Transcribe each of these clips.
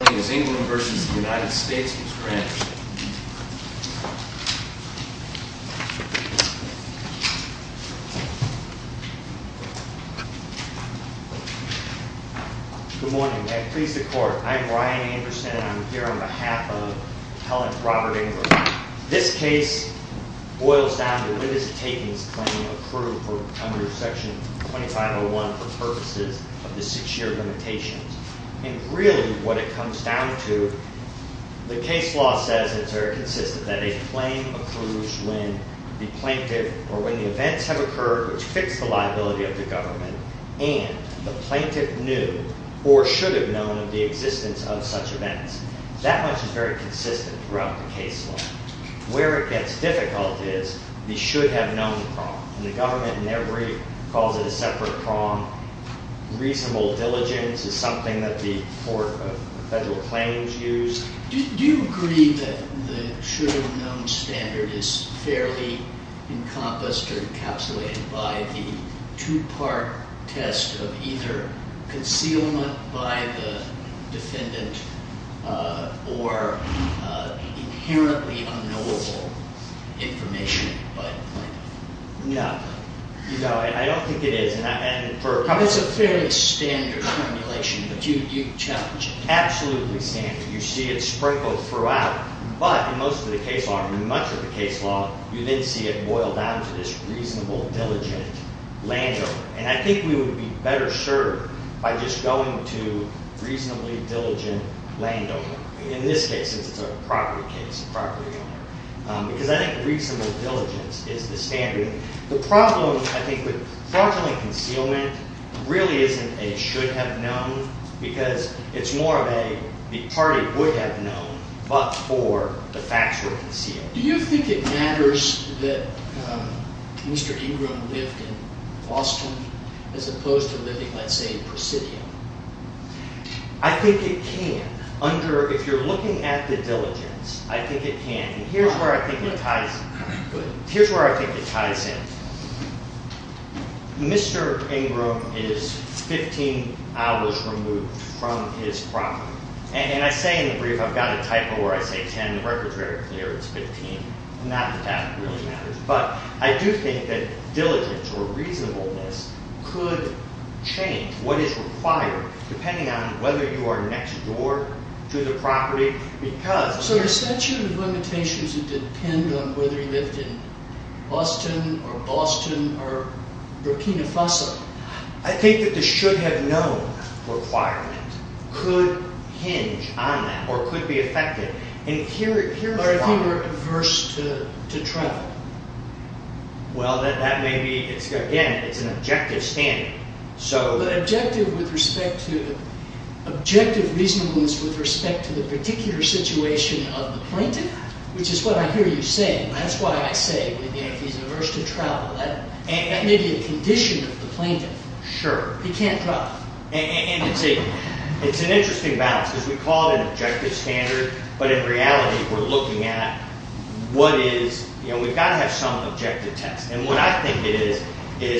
Good morning. May it please the Court, I'm Ryan Anderson and I'm here on behalf of appellant Robert Ingrum. This case boils down to Linda Tatum's claim of approval under Section 2501 for purposes of the six-year limitations. And really what it comes down to, the case law says it's very consistent that a claim approves when the plaintiff or when the events have occurred which fix the liability of the government and the plaintiff knew or should have known of the existence of such events. That much is very consistent throughout the case law. Where it gets difficult is the should have known the problem and the plaintiff calls it a separate prong. Reasonable diligence is something that the court of federal claims used. Do you agree that the should have known standard is fairly encompassed or encapsulated by the two-part test of either concealment by the defendant or inherently unknowable information by the plaintiff? No. I don't think it is. It's a fairly standard formulation but you challenge it. Absolutely standard. You see it sprinkled throughout but in most of the case law, in much of the case law, you then see it boiled down to this reasonable, diligent landowner. And I think we would be better served by just going to Because I think reasonable diligence is the standard. The problem I think with fraudulent concealment really isn't a should have known because it's more of a the party would have known but for the facts were concealed. Do you think it matters that Mr. Ingram lived in Boston as opposed to living let's say in Presidio? I think it can. If you're looking at the diligence, I think it can. And here's where I think it ties in. Mr. Ingram is 15 hours removed from his property. And I say in the brief I've got a typo where I say 10. The record is very clear. It's 15. Not that that really matters. But I do think that diligence or reasonableness could change what is required depending on whether you are next door to the property. So the statute of limitations would depend on whether he lived in Boston or Boston or Burkina Faso. I think that the should have known requirement could hinge on that or could be affected. Or if he were averse to travel. Well that may be, again it's an objective standard. Objective reasonableness with respect to the particular situation of the plaintiff which is what I hear you saying. That's why I say if he's averse to travel that may be a condition of the plaintiff. He can't travel. It's an interesting balance because we call it an objective standard but in reality we're looking at what is, we've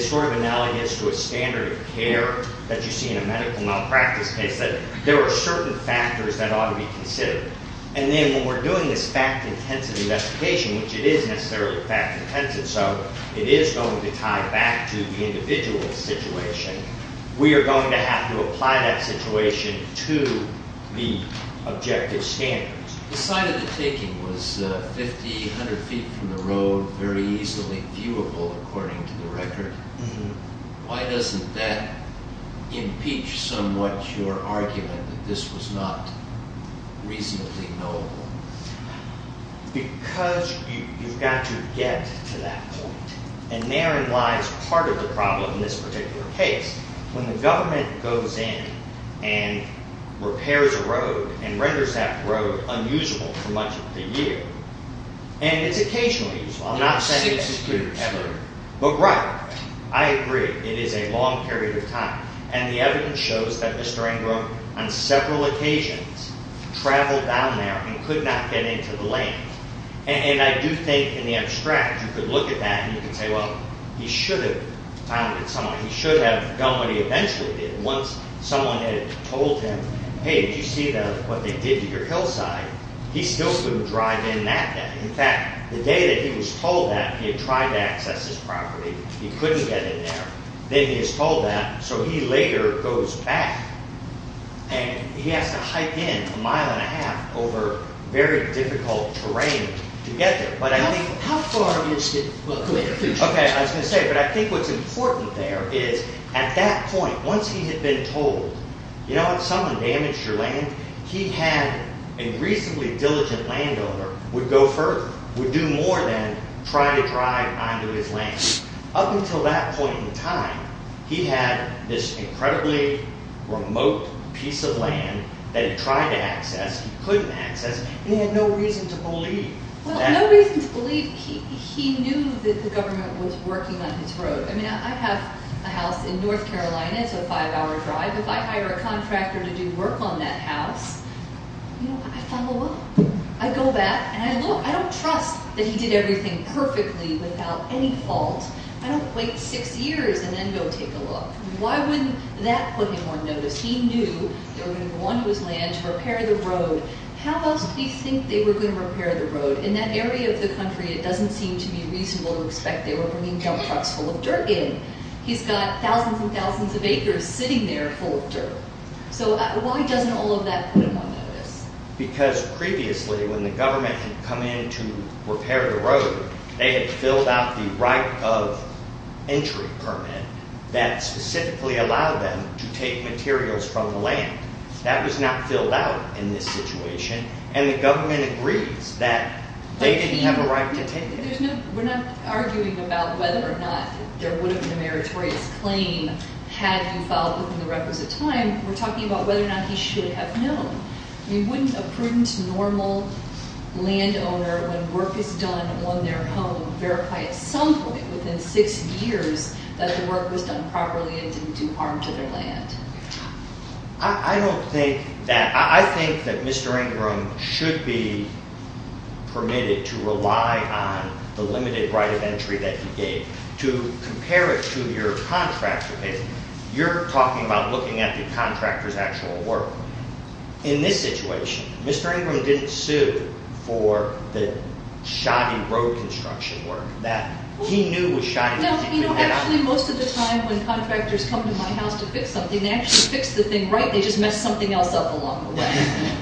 sort of analogous to a standard of care that you see in a medical malpractice case that there are certain factors that ought to be considered. And then when we're doing this fact intensive investigation, which it is necessarily fact intensive so it is going to tie back to the individual situation, we are going to have to apply that situation to the objective standards. The site of the taking was 50, 100 feet from the road, very easily viewable according to the record. Why doesn't that impeach somewhat your argument that this was not reasonably knowable? Because you've got to get to that point. And therein lies part of the problem in this particular case. When the government goes in and repairs a road and renders that road unusable for much of the year, and it's occasionally usable, I'm not saying that ever. But right, I agree, it is a long period of time. And the evidence shows that Mr. Ingram on several occasions traveled down there and could not get into the lane. And I do think in the abstract you could look at that and you could say, well, he should have done it some way. He should have done what he eventually did once someone had told him, hey, did you see what they did to your hillside? He still wouldn't drive in that way. In fact, the day that he was told that, he had tried to access his property. He couldn't get in there. Then he was told that, so he later goes back. And he has to hike in a mile and a half over very difficult terrain to get there. How far is it? Okay, I was going to say, but I think what's important there is at that point, once he had been told, you know, if someone damaged your land, he had a reasonably diligent landowner would go further, would do more than try to drive onto his land. Up until that point in time, he had this incredibly remote piece of land that he tried to access, he couldn't access, and he had no reason to believe. Well, no reason to believe. He knew that the government was working on his road. I mean, I have a house in North Carolina. It's a five-hour drive. If I hire a contractor to do work on that house, you know, I follow up. I go back and I look. I don't trust that he did everything perfectly without any fault. I don't wait six years and then go take a look. Why wouldn't that put him on notice? He knew they were going to go onto his land to repair the road. How else did he think they were going to repair the road? In that area of the country, it doesn't seem to be reasonable to expect they were bringing dump trucks full of dirt in. He's got thousands and thousands of acres sitting there full of dirt. So why doesn't all of that put him on notice? Because previously, when the government had come in to repair the road, they had filled out the right of entry permit that specifically allowed them to take materials from the land. That was not filled out in this situation, and the government agrees that they didn't have a right to take it. We're not arguing about whether or not there would have been a meritorious claim had you filed within the requisite time. We're talking about whether or not he should have known. I mean, wouldn't a prudent, normal landowner, when work is done on their home, verify at some point within six years that the work was done properly and didn't do harm to their land? I don't think that. I think that Mr. Ingram should be permitted to rely on the limited right of entry that he gave. To compare it to your contractor payment, you're talking about looking at the contractor's actual work. In this situation, Mr. Ingram didn't sue for the shoddy road construction work that he knew was shoddy. Actually, most of the time when contractors come to my house to fix something, they actually fix the thing right, they just mess something else up along the way.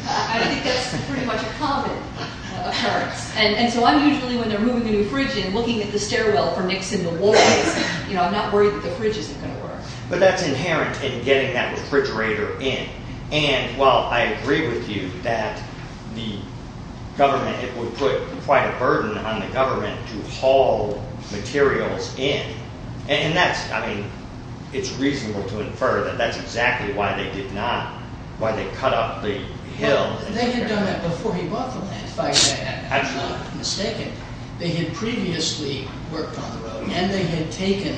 I think that's pretty much a common occurrence. So I'm usually, when they're moving a new fridge in, looking at the stairwell for nicks in the walls. I'm not worried that the fridge isn't going to work. But that's inherent in getting that refrigerator in. And while I agree with you that the government it would put quite a burden on the government to haul materials in. And that's, I mean, it's reasonable to infer that that's exactly why they did not, why they cut up the hill. They had done that before he bought the land, if I say that, if I'm not mistaken. They had previously worked on the road and they had taken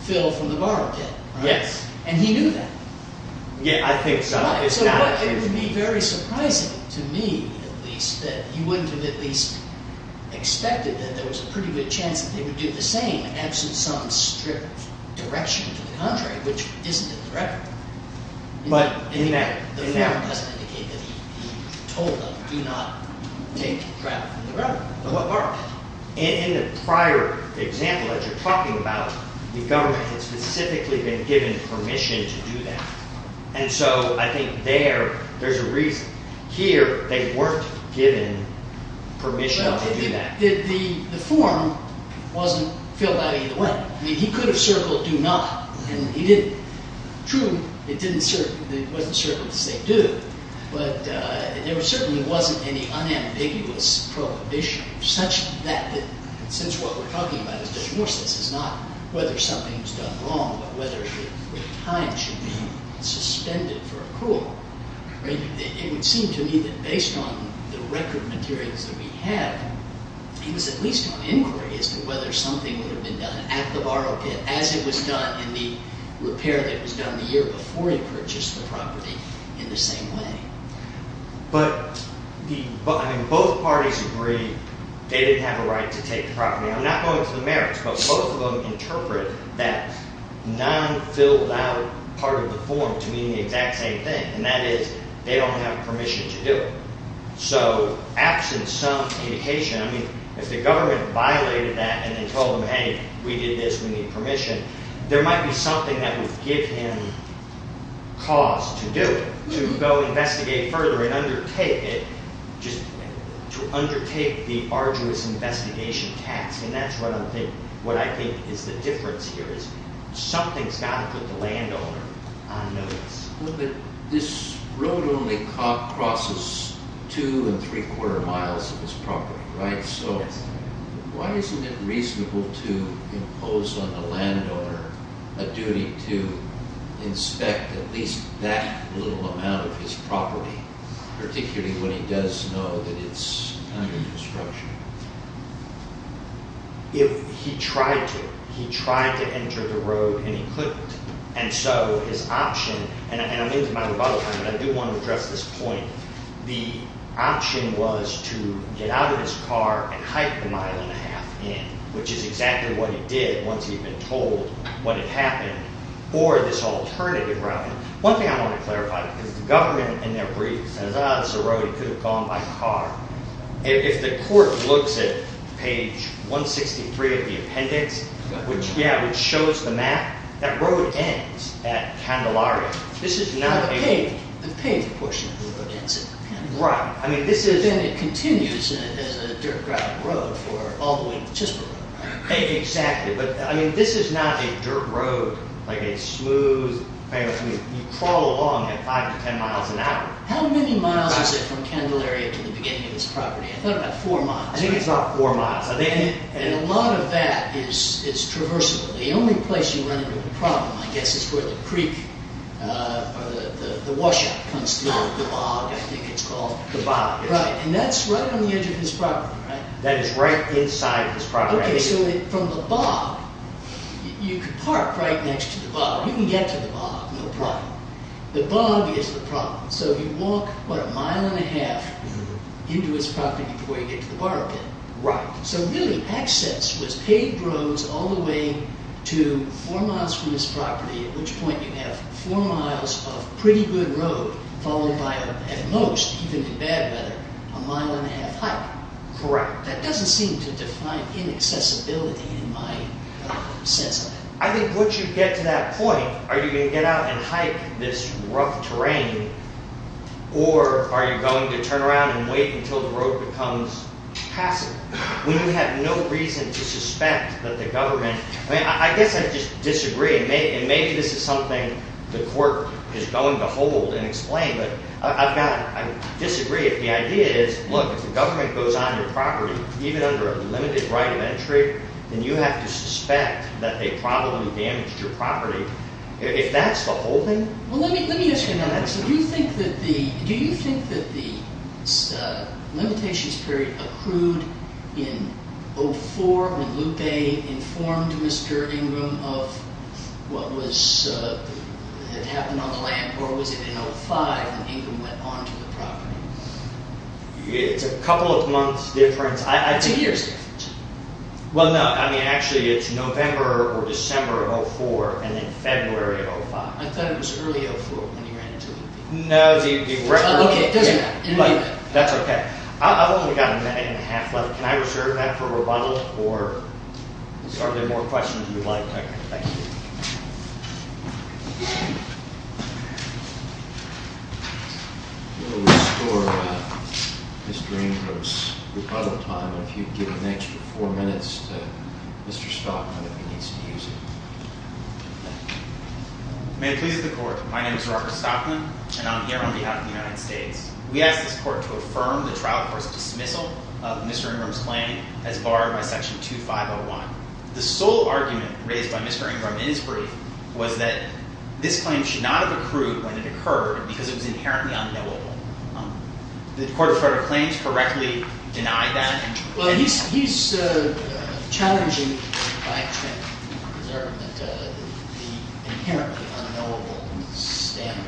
fill from the barricade. Yes. And he knew that. Yeah, I think so. It would be very surprising to me, at least, that you wouldn't have at least expected that there was a pretty good chance that they would do the same, absent some strict direction to the contrary, which isn't a threat. But in that, in that. The fact doesn't indicate that he told them, do not take drag from the road. In the prior example that you're talking about, the government has specifically been given permission to do that. And so I think there, there's a reason. Here, they weren't given permission to do that. The form wasn't filled out either way. I mean, he could have circled do not and he didn't. True, it wasn't circled to say do, but there certainly wasn't any unambiguous prohibition such that, since what we're talking about is divorce, this is not whether something was done wrong, but whether the time should be suspended for a court. It would seem to me that based on the record materials that we have, he was at least on inquiry as to whether something would have been done at the borrow pit as it was done in the repair that was done the year before he purchased the property in the same way. But, I mean, both parties agree they didn't have a right to take the property. I'm not going to the merits, but both of them interpret that non-filled out part of the form to mean the exact same thing, and that is they don't have permission to do it. So absent some indication, I mean, if the government violated that and then told them, hey, we did this, we need permission, there might be something that would give him cause to do it, to go investigate further and undertake it, just to undertake the arduous investigation task, and that's what I think is the difference here is something's got to put the landowner on notice. But this road only crosses two and three quarter miles of his property, right? Yes. Why isn't it reasonable to impose on the landowner a duty to inspect at least that little amount of his property, particularly when he does know that it's under construction? If he tried to. He tried to enter the road and he couldn't, and so his option, and I'm into my rebuttal which is exactly what he did once he had been told what had happened for this alternative route. One thing I want to clarify is the government in their brief says, ah, this is a road, he could have gone by car. If the court looks at page 163 of the appendix, which shows the map, that road ends at Candelaria. The paved portion of the road ends at Candelaria. Right. Then it continues as a dirt road for all the way to Chisborough, right? Exactly. But this is not a dirt road, like a smooth, you crawl along at five to ten miles an hour. How many miles is it from Candelaria to the beginning of this property? I thought about four miles. I think it's about four miles. And a lot of that is traversable. The only place you run into a problem, I guess, is where the creek, the washout comes through, the bog, I think it's called. The bog. Right. And that's right on the edge of his property, right? That is right inside of his property. Okay, so from the bog, you could park right next to the bog. You can get to the bog, no problem. The bog is the problem. So you walk, what, a mile and a half into his property before you get to the borrow pit. Right. So really, access was paved roads all the way to four miles from his property, at which point you have four miles of pretty good road, followed by, at most, even in bad weather, a mile and a half hike. Correct. That doesn't seem to define inaccessibility in my sense of it. I think once you get to that point, are you going to get out and hike this rough terrain, or are you going to turn around and wait until the road becomes passive? When you have no reason to suspect that the government, I mean, I guess I just disagree, and maybe this is something the court is going to hold and explain. But I've got to disagree if the idea is, look, if the government goes on your property, even under a limited right of entry, then you have to suspect that they probably damaged your property. If that's the holding. Well, let me ask you another question. Do you think that the limitations period accrued in 04 when Lupe informed Mr. Ingram of what had happened on the land, or was it in 05 when Ingram went on to the property? It's a couple of months difference. It's a year's difference. Well, no, I mean, actually it's November or December of 04, and then February of 05. I thought it was early 04 when he ran into Lupe. No, the record. Okay, it doesn't matter. That's okay. I've only got a minute and a half left. Can I reserve that for rebuttal, or are there more questions you'd like? Okay, thank you. We'll restore Mr. Ingram's rebuttal time, and if you'd give an extra four minutes to Mr. Stockland if he needs to use it. Thank you. May it please the Court, my name is Robert Stockland, and I'm here on behalf of the United States. We ask this Court to affirm the trial court's dismissal of Mr. Ingram's planning as barred by Section 2501. The sole argument raised by Mr. Ingram in his brief was that this claim should not have accrued when it occurred because it was inherently unknowable. Did the Court of Federal Claims correctly deny that? Well, he's challenging, in fact, his argument, the inherently unknowable standard,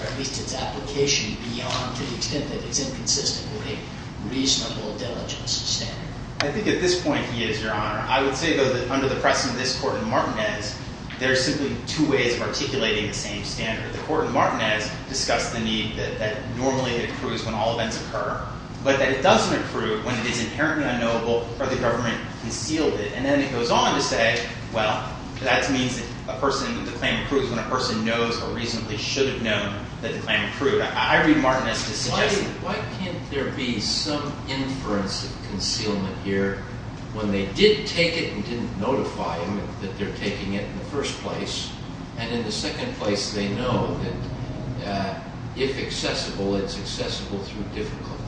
or at least its application beyond to the extent that it's inconsistent with a reasonable diligence standard. I think at this point he is, Your Honor. I would say, though, that under the precedent of this Court in Martinez, there are simply two ways of articulating the same standard. The Court in Martinez discussed the need that normally it accrues when all events occur, but that it doesn't accrue when it is inherently unknowable or the government concealed it. And then it goes on to say, well, that means that a person, the claim accrues when a person knows or reasonably should have known that the claim accrued. I read Martinez to suggest that. Why can't there be some inference of concealment here when they did take it and didn't notify him that they're taking it in the first place? And in the second place, they know that if accessible, it's accessible through difficulty.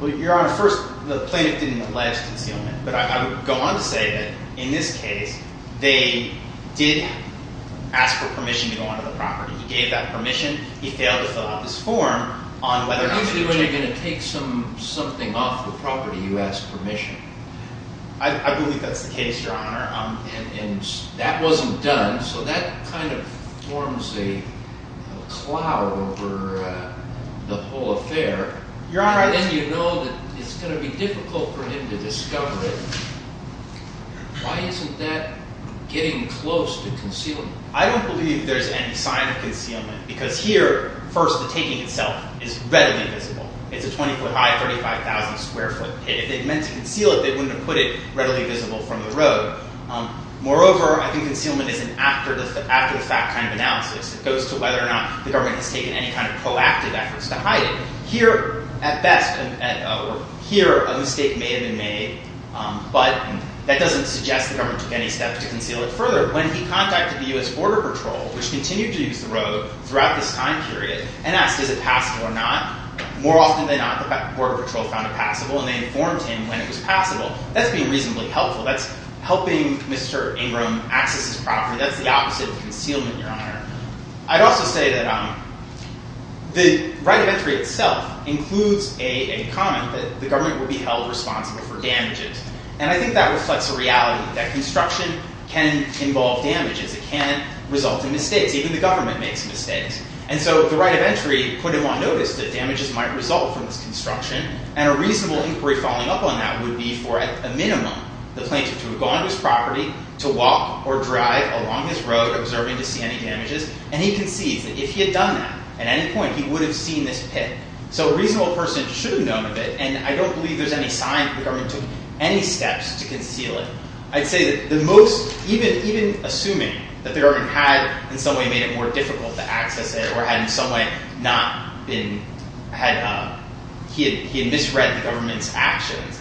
Well, Your Honor, first, the plaintiff didn't allege concealment. But I would go on to say that in this case, they did ask for permission to go onto the property. He gave that permission. He failed to fill out this form on whether or not he could do it. Usually when you're going to take something off the property, you ask permission. I believe that's the case, Your Honor. And that wasn't done. So that kind of forms a cloud over the whole affair. Your Honor, I just— And then you know that it's going to be difficult for him to discover it. Why isn't that getting close to concealment? I don't believe there's any sign of concealment. Because here, first, the taking itself is readily visible. It's a 20-foot high, 35,000-square-foot pit. If they'd meant to conceal it, they wouldn't have put it readily visible from the road. Moreover, I think concealment is an after-the-fact kind of analysis. It goes to whether or not the government has taken any kind of proactive efforts to hide it. Here, at best—or here, a mistake may have been made. But that doesn't suggest the government took any steps to conceal it further. When he contacted the U.S. Border Patrol, which continued to use the road throughout this time period, and asked, is it passable or not, more often than not, the Border Patrol found it passable, and they informed him when it was passable. That's being reasonably helpful. That's helping Mr. Ingram access his property. That's the opposite of concealment, Your Honor. I'd also say that the right of entry itself includes a comment that the government would be held responsible for damages. And I think that reflects the reality that construction can involve damages. It can result in mistakes. Even the government makes mistakes. And so the right of entry put him on notice that damages might result from this construction. And a reasonable inquiry following up on that would be for, at a minimum, the plaintiff to have gone to his property to walk or drive along his road, observing to see any damages. And he concedes that if he had done that at any point, he would have seen this pit. So a reasonable person should have known of it. And I don't believe there's any sign that the government took any steps to conceal it. I'd say that even assuming that the government had, in some way, made it more difficult to access it, or had, in some way, he had misread the government's actions,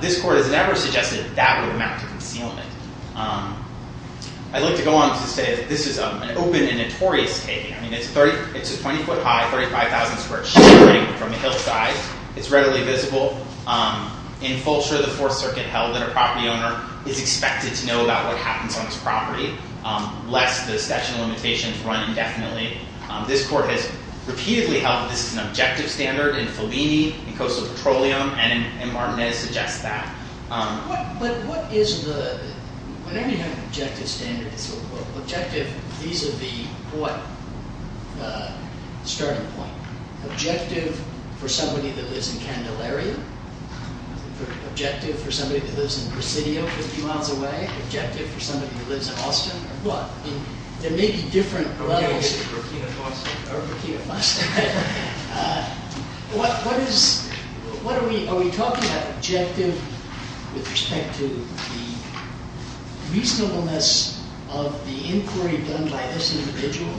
this Court has never suggested that would amount to concealment. I'd like to go on to say that this is an open and notorious case. I mean, it's a 20-foot high, 35,000-square-foot building from the hillside. It's readily visible. In Fulcher, the Fourth Circuit held that a property owner is expected to know about what happens on his property, lest the statute of limitations run indefinitely. This Court has repeatedly held that this is an objective standard in Fellini, in Coastal Petroleum, and M. Martinez suggests that. But what is the—whenever you have an objective standard, it's objective vis-à-vis what starting point? Objective for somebody that lives in Candelaria? Objective for somebody that lives in Presidio, a few miles away? Objective for somebody that lives in Austin, or what? I mean, there may be different levels. Or Burkina Faso. Or Burkina Faso. What is—what are we—are we talking about objective with respect to the reasonableness of the inquiry done by this individual?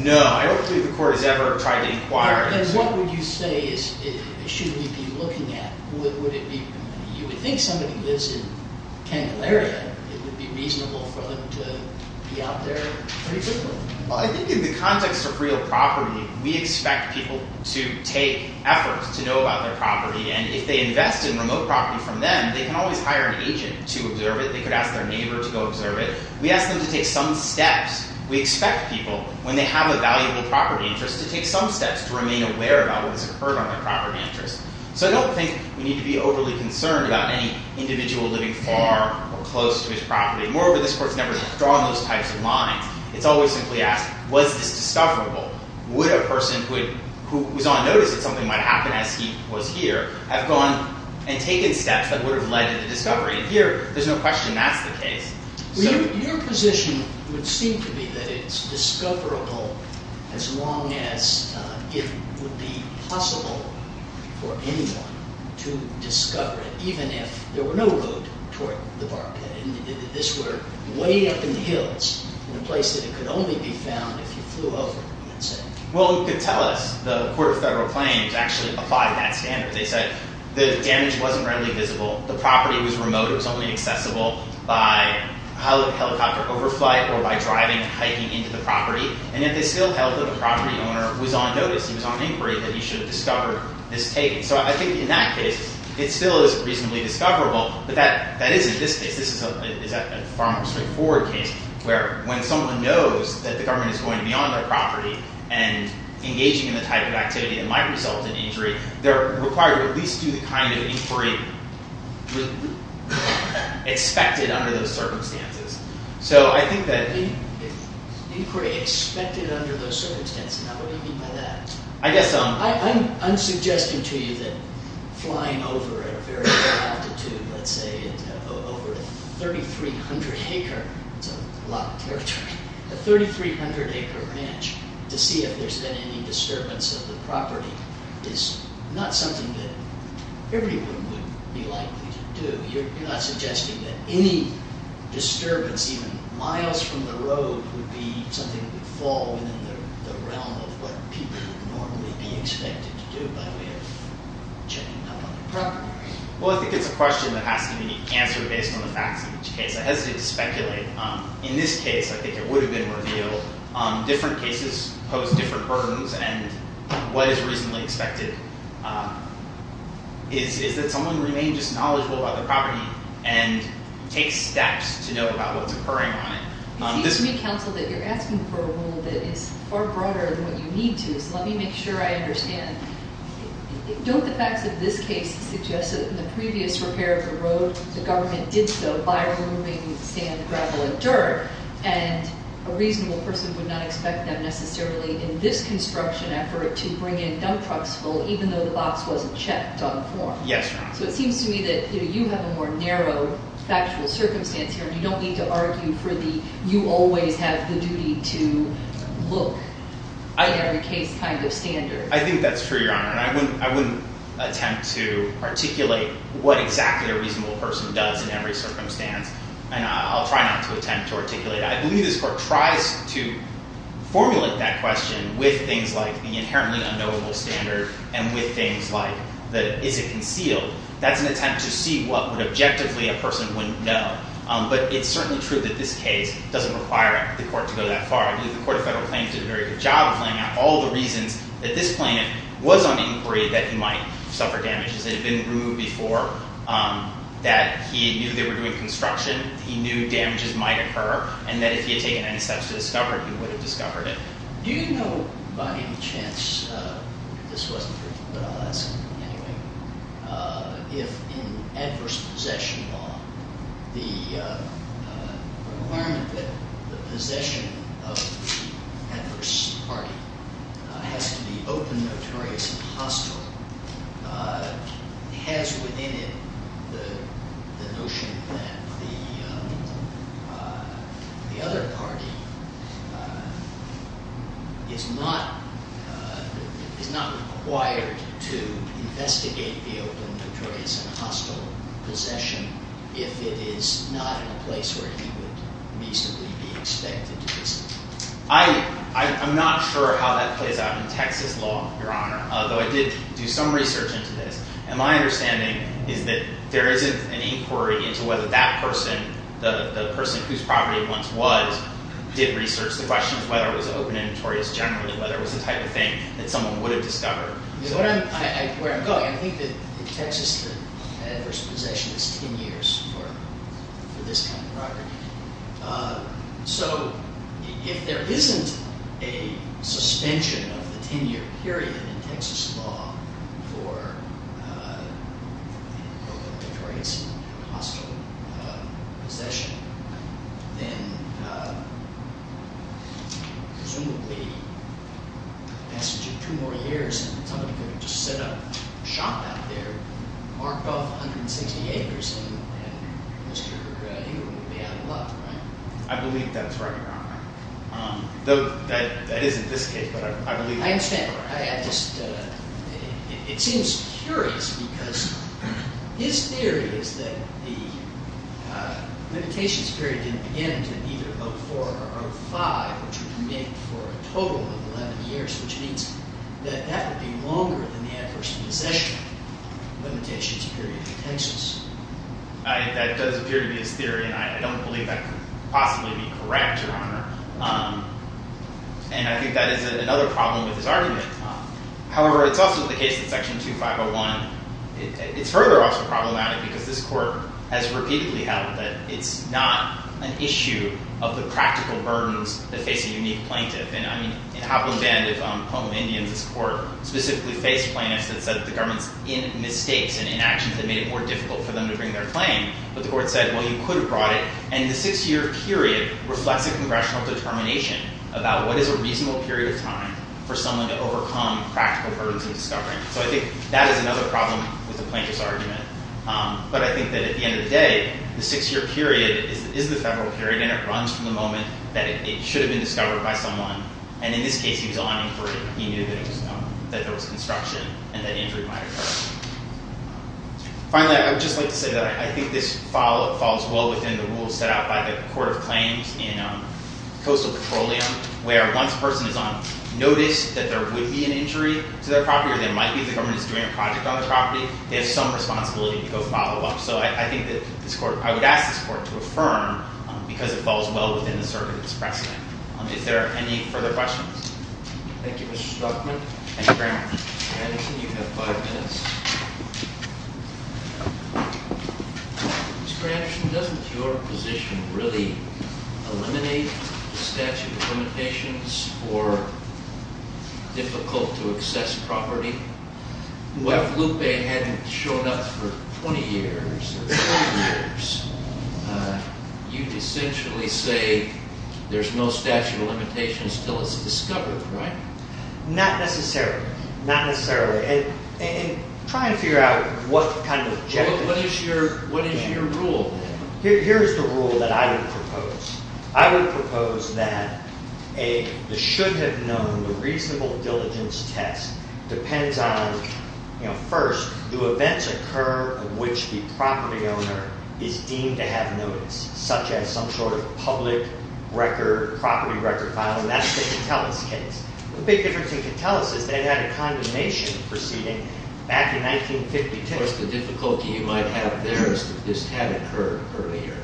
No. I don't believe the Court has ever tried to inquire into— Then what would you say is—should we be looking at? Would it be—you would think somebody lives in Candelaria, it would be reasonable for them to be out there pretty quickly. Well, I think in the context of real property, we expect people to take efforts to know about their property. And if they invest in remote property from them, they can always hire an agent to observe it. They could ask their neighbor to go observe it. We ask them to take some steps. We expect people, when they have a valuable property interest, to take some steps to remain aware about what has occurred on their property interest. So I don't think we need to be overly concerned about any individual living far or close to his property. Moreover, this Court's never drawn those types of lines. It's always simply asked, was this discoverable? Would a person who was on notice that something might happen, as he was here, have gone and taken steps that would have led to the discovery? Your position would seem to be that it's discoverable as long as it would be possible for anyone to discover it, even if there were no road toward the bar. This were way up in the hills, in a place that it could only be found if you flew over, you might say. Well, you could tell us the Court of Federal Claims actually applied that standard. They said the damage wasn't readily visible. The property was remote. It was only accessible by helicopter overflight or by driving and hiking into the property. And yet they still held that the property owner was on notice. He was on inquiry that he should have discovered this taking. So I think in that case, it still is reasonably discoverable. But that isn't this case. This is a far more straightforward case, where when someone knows that the government is going beyond their property and engaging in the type of activity that might result in injury, they're required to at least do the kind of inquiry expected under those circumstances. So I think that… Inquiry expected under those circumstances. Now, what do you mean by that? I guess I'm… I can assure you that flying over at a very low altitude, let's say over a 3,300-acre… It's a lot of territory. A 3,300-acre ranch to see if there's been any disturbance of the property is not something that everyone would be likely to do. You're not suggesting that any disturbance, even miles from the road, would be something that would fall within the realm of what people would normally be expected to do by way of checking up on the property. Well, I think it's a question that has to be answered based on the facts of each case. I hesitate to speculate. In this case, I think it would have been revealed. Different cases pose different burdens. And what is reasonably expected is that someone remain just knowledgeable about the property and take steps to know about what's occurring on it. It seems to me, counsel, that you're asking for a rule that is far broader than what you need to. So let me make sure I understand. Don't the facts of this case suggest that in the previous repair of the road, the government did so by removing sand, gravel, and dirt, and a reasonable person would not expect that necessarily in this construction effort to bring in dump trucks full even though the box wasn't checked on the floor? Yes, Your Honor. So it seems to me that you have a more narrow factual circumstance here. You don't need to argue for the you always have the duty to look in every case kind of standard. I think that's true, Your Honor. And I wouldn't attempt to articulate what exactly a reasonable person does in every circumstance. And I'll try not to attempt to articulate it. I believe this court tries to formulate that question with things like the inherently unknowable standard and with things like, is it concealed? That's an attempt to see what would objectively a person wouldn't know. But it's certainly true that this case doesn't require the court to go that far. I believe the Court of Federal Claims did a very good job of laying out all the reasons that this plaintiff was on inquiry that he might suffer damages. They had been removed before that he knew they were doing construction. He knew damages might occur and that if he had taken any steps to discover it, he would have discovered it. Do you know, by any chance, if this wasn't for you, but I'll ask anyway, if in adverse possession law the requirement that the possession of the adverse party has to be open, notorious, and hostile has within it the notion that the other party is not required to investigate the open, notorious, and hostile possession if it is not in a place where he would reasonably be expected to visit? I'm not sure how that plays out in Texas law, Your Honor, although I did do some research into this. And my understanding is that there isn't an inquiry into whether that person, the person whose property it once was, did research the question of whether it was open and notorious generally, whether it was the type of thing that someone would have discovered. Where I'm going, I think that in Texas the adverse possession is 10 years for this kind of property. So if there isn't a suspension of the 10-year period in Texas law for open, notorious, and hostile possession, then presumably in the passage of two more years somebody could have just set up a shop out there marked off 160 acres. And Mr. Hewitt would be out of luck, right? I believe that's right, Your Honor. That isn't this case, but I believe that's right. I understand. It seems curious because his theory is that the limitations period didn't begin until either 04 or 05, which would make for a total of 11 years, which means that that would be longer than the adverse possession limitations period in Texas. That does appear to be his theory, and I don't believe that could possibly be correct, Your Honor. And I think that is another problem with his argument. However, it's also the case that Section 2501, it's further also problematic because this court has repeatedly held that it's not an issue of the practical burdens that face a unique plaintiff. I mean, in Hopland Band of Home of Indians, this court specifically faced plaintiffs that said that the government's mistakes and inactions had made it more difficult for them to bring their claim. But the court said, well, you could have brought it. And the six-year period reflects a congressional determination about what is a reasonable period of time for someone to overcome practical burdens in discovering. So I think that is another problem with the plaintiff's argument. But I think that at the end of the day, the six-year period is the federal period, and it runs from the moment that it should have been discovered by someone. And in this case, he was awning for it. He knew that there was construction and that injury might occur. Finally, I would just like to say that I think this follows well within the rules set out by the Court of Claims in Coastal Petroleum, where once a person is on notice that there would be an injury to their property, or there might be if the government is doing a project on the property, they have some responsibility to go follow up. So I think that I would ask this court to affirm, because it falls well within the circuit of this precedent. If there are any further questions. Thank you, Mr. Strachman. Thank you very much. Mr. Anderson, you have five minutes. Mr. Anderson, doesn't your position really eliminate the statute of limitations for difficult-to-access property? If Lev Lupe hadn't shown up for 20 years, or 30 years, you'd essentially say there's no statute of limitations until it's discovered, right? Not necessarily. Not necessarily. And try and figure out what kind of objectives. What is your rule? Here's the rule that I would propose. I would propose that the should-have-known, the reasonable diligence test depends on, first, the events occur of which the property owner is deemed to have notice, such as some sort of public record, property record file. And that's the Catullus case. The big difference in Catullus is they had a condemnation proceeding back in 1952. Of course, the difficulty you might have there is that this had occurred earlier.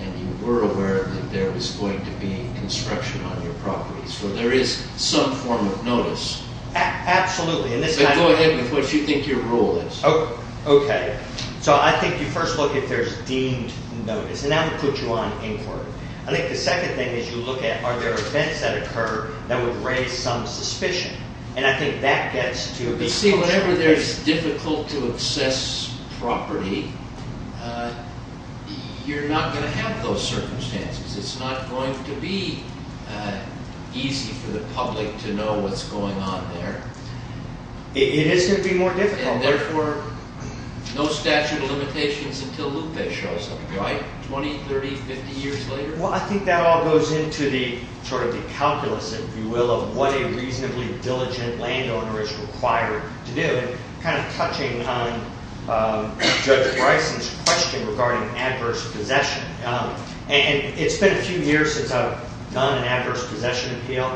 And you were aware that there was going to be construction on your property. So there is some form of notice. Absolutely. Go ahead with what you think your rule is. Okay. So I think you first look if there's deemed notice. And that would put you on inquiry. I think the second thing is you look at are there events that occur that would raise some suspicion. And I think that gets to a big question. You see, whenever there's difficult-to-access property, you're not going to have those circumstances. It's not going to be easy for the public to know what's going on there. It is going to be more difficult. And therefore, no statute of limitations until Lupe shows up. Right? 20, 30, 50 years later. Well, I think that all goes into the calculus, if you will, of what a reasonably diligent landowner is required to do. Kind of touching on Judge Bryson's question regarding adverse possession. And it's been a few years since I've done an adverse possession appeal.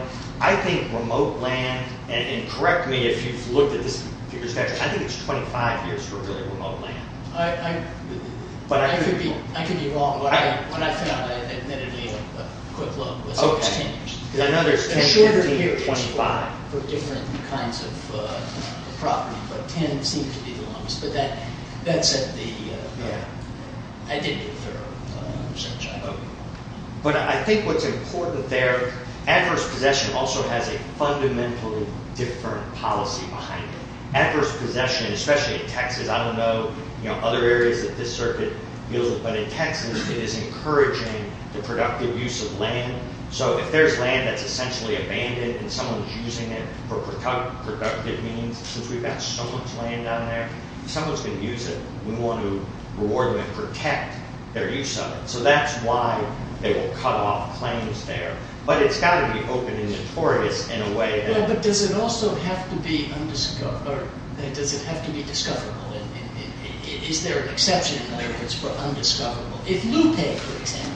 I think remote land, and correct me if you've looked at this figure, I think it's 25 years for really remote land. I could be wrong. When I found out, I admittedly had a quick look. So it's 10 years. Because I know there's 10, 15, 25. For different kinds of property. But 10 seems to be the longest. But that said, I did do a thorough research on remote land. But I think what's important there, adverse possession also has a fundamentally different policy behind it. Adverse possession, especially in Texas, I don't know other areas that this circuit deals with. But in Texas, it is encouraging the productive use of land. So if there's land that's essentially abandoned and someone's using it for productive means, since we've got so much land down there, if someone's going to use it, we want to reward them and protect their use of it. So that's why they will cut off claims there. But it's got to be open and notorious in a way. But does it also have to be undiscoverable? Does it have to be discoverable? Is there an exception, in other words, for undiscoverable? If Lupe, for example,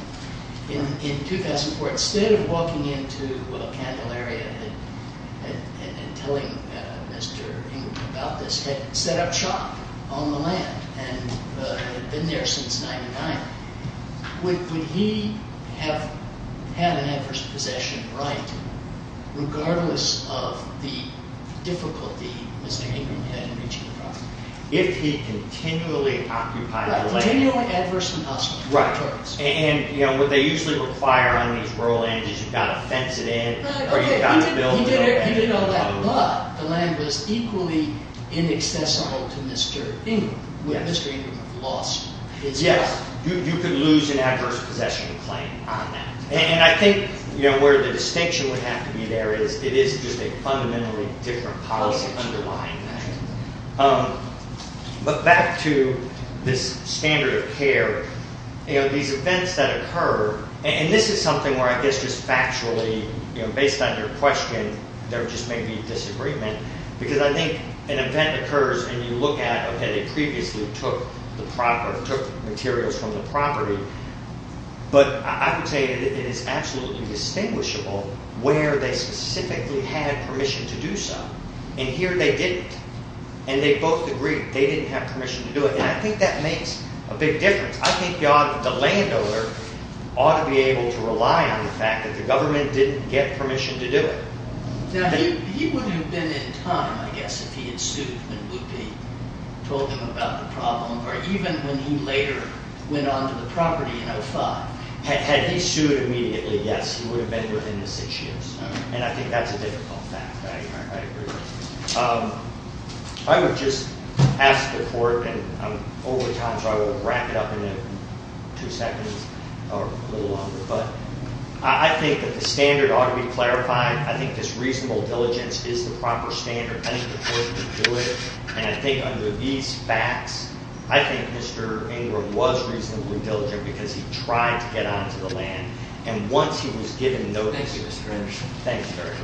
in 2004, instead of walking into Candelaria and telling Mr. England about this, had set up shop on the land and had been there since 99, would he have had an adverse possession right regardless of the difficulty Mr. England had in reaching the property? If he continually occupied the land. Continually adverse than possible. Right. And what they usually require on these rural areas is you've got to fence it in or you've got to build it. He didn't know that, but the land was equally inaccessible to Mr. England. Would Mr. England have lost his property? Yes. You could lose an adverse possession claim on that. And I think where the distinction would have to be there is it is just a fundamentally different policy underlying that. But back to this standard of care. These events that occur, and this is something where I guess just factually, based on your question, there just may be disagreement because I think an event occurs and you look at, they previously took materials from the property. But I would say that it is absolutely distinguishable where they specifically had permission to do so. And here they didn't. And they both agreed they didn't have permission to do it. And I think that makes a big difference. I think the landowner ought to be able to rely on the fact that the government didn't get permission to do it. Now, he would have been in time, I guess, if he had sued and would be told about the problem, or even when he later went on to the property in 05. Had he sued immediately, yes, he would have been within the six years. And I think that's a difficult fact. I agree. I would just ask the court, and I'm over time, so I will wrap it up in two seconds or a little longer. But I think that the standard ought to be clarified. I think this reasonable diligence is the proper standard. I think the court can do it. And I think under these facts, I think Mr. Ingram was reasonably diligent because he tried to get onto the land. And once he was given notice of his permission. Thank you very much.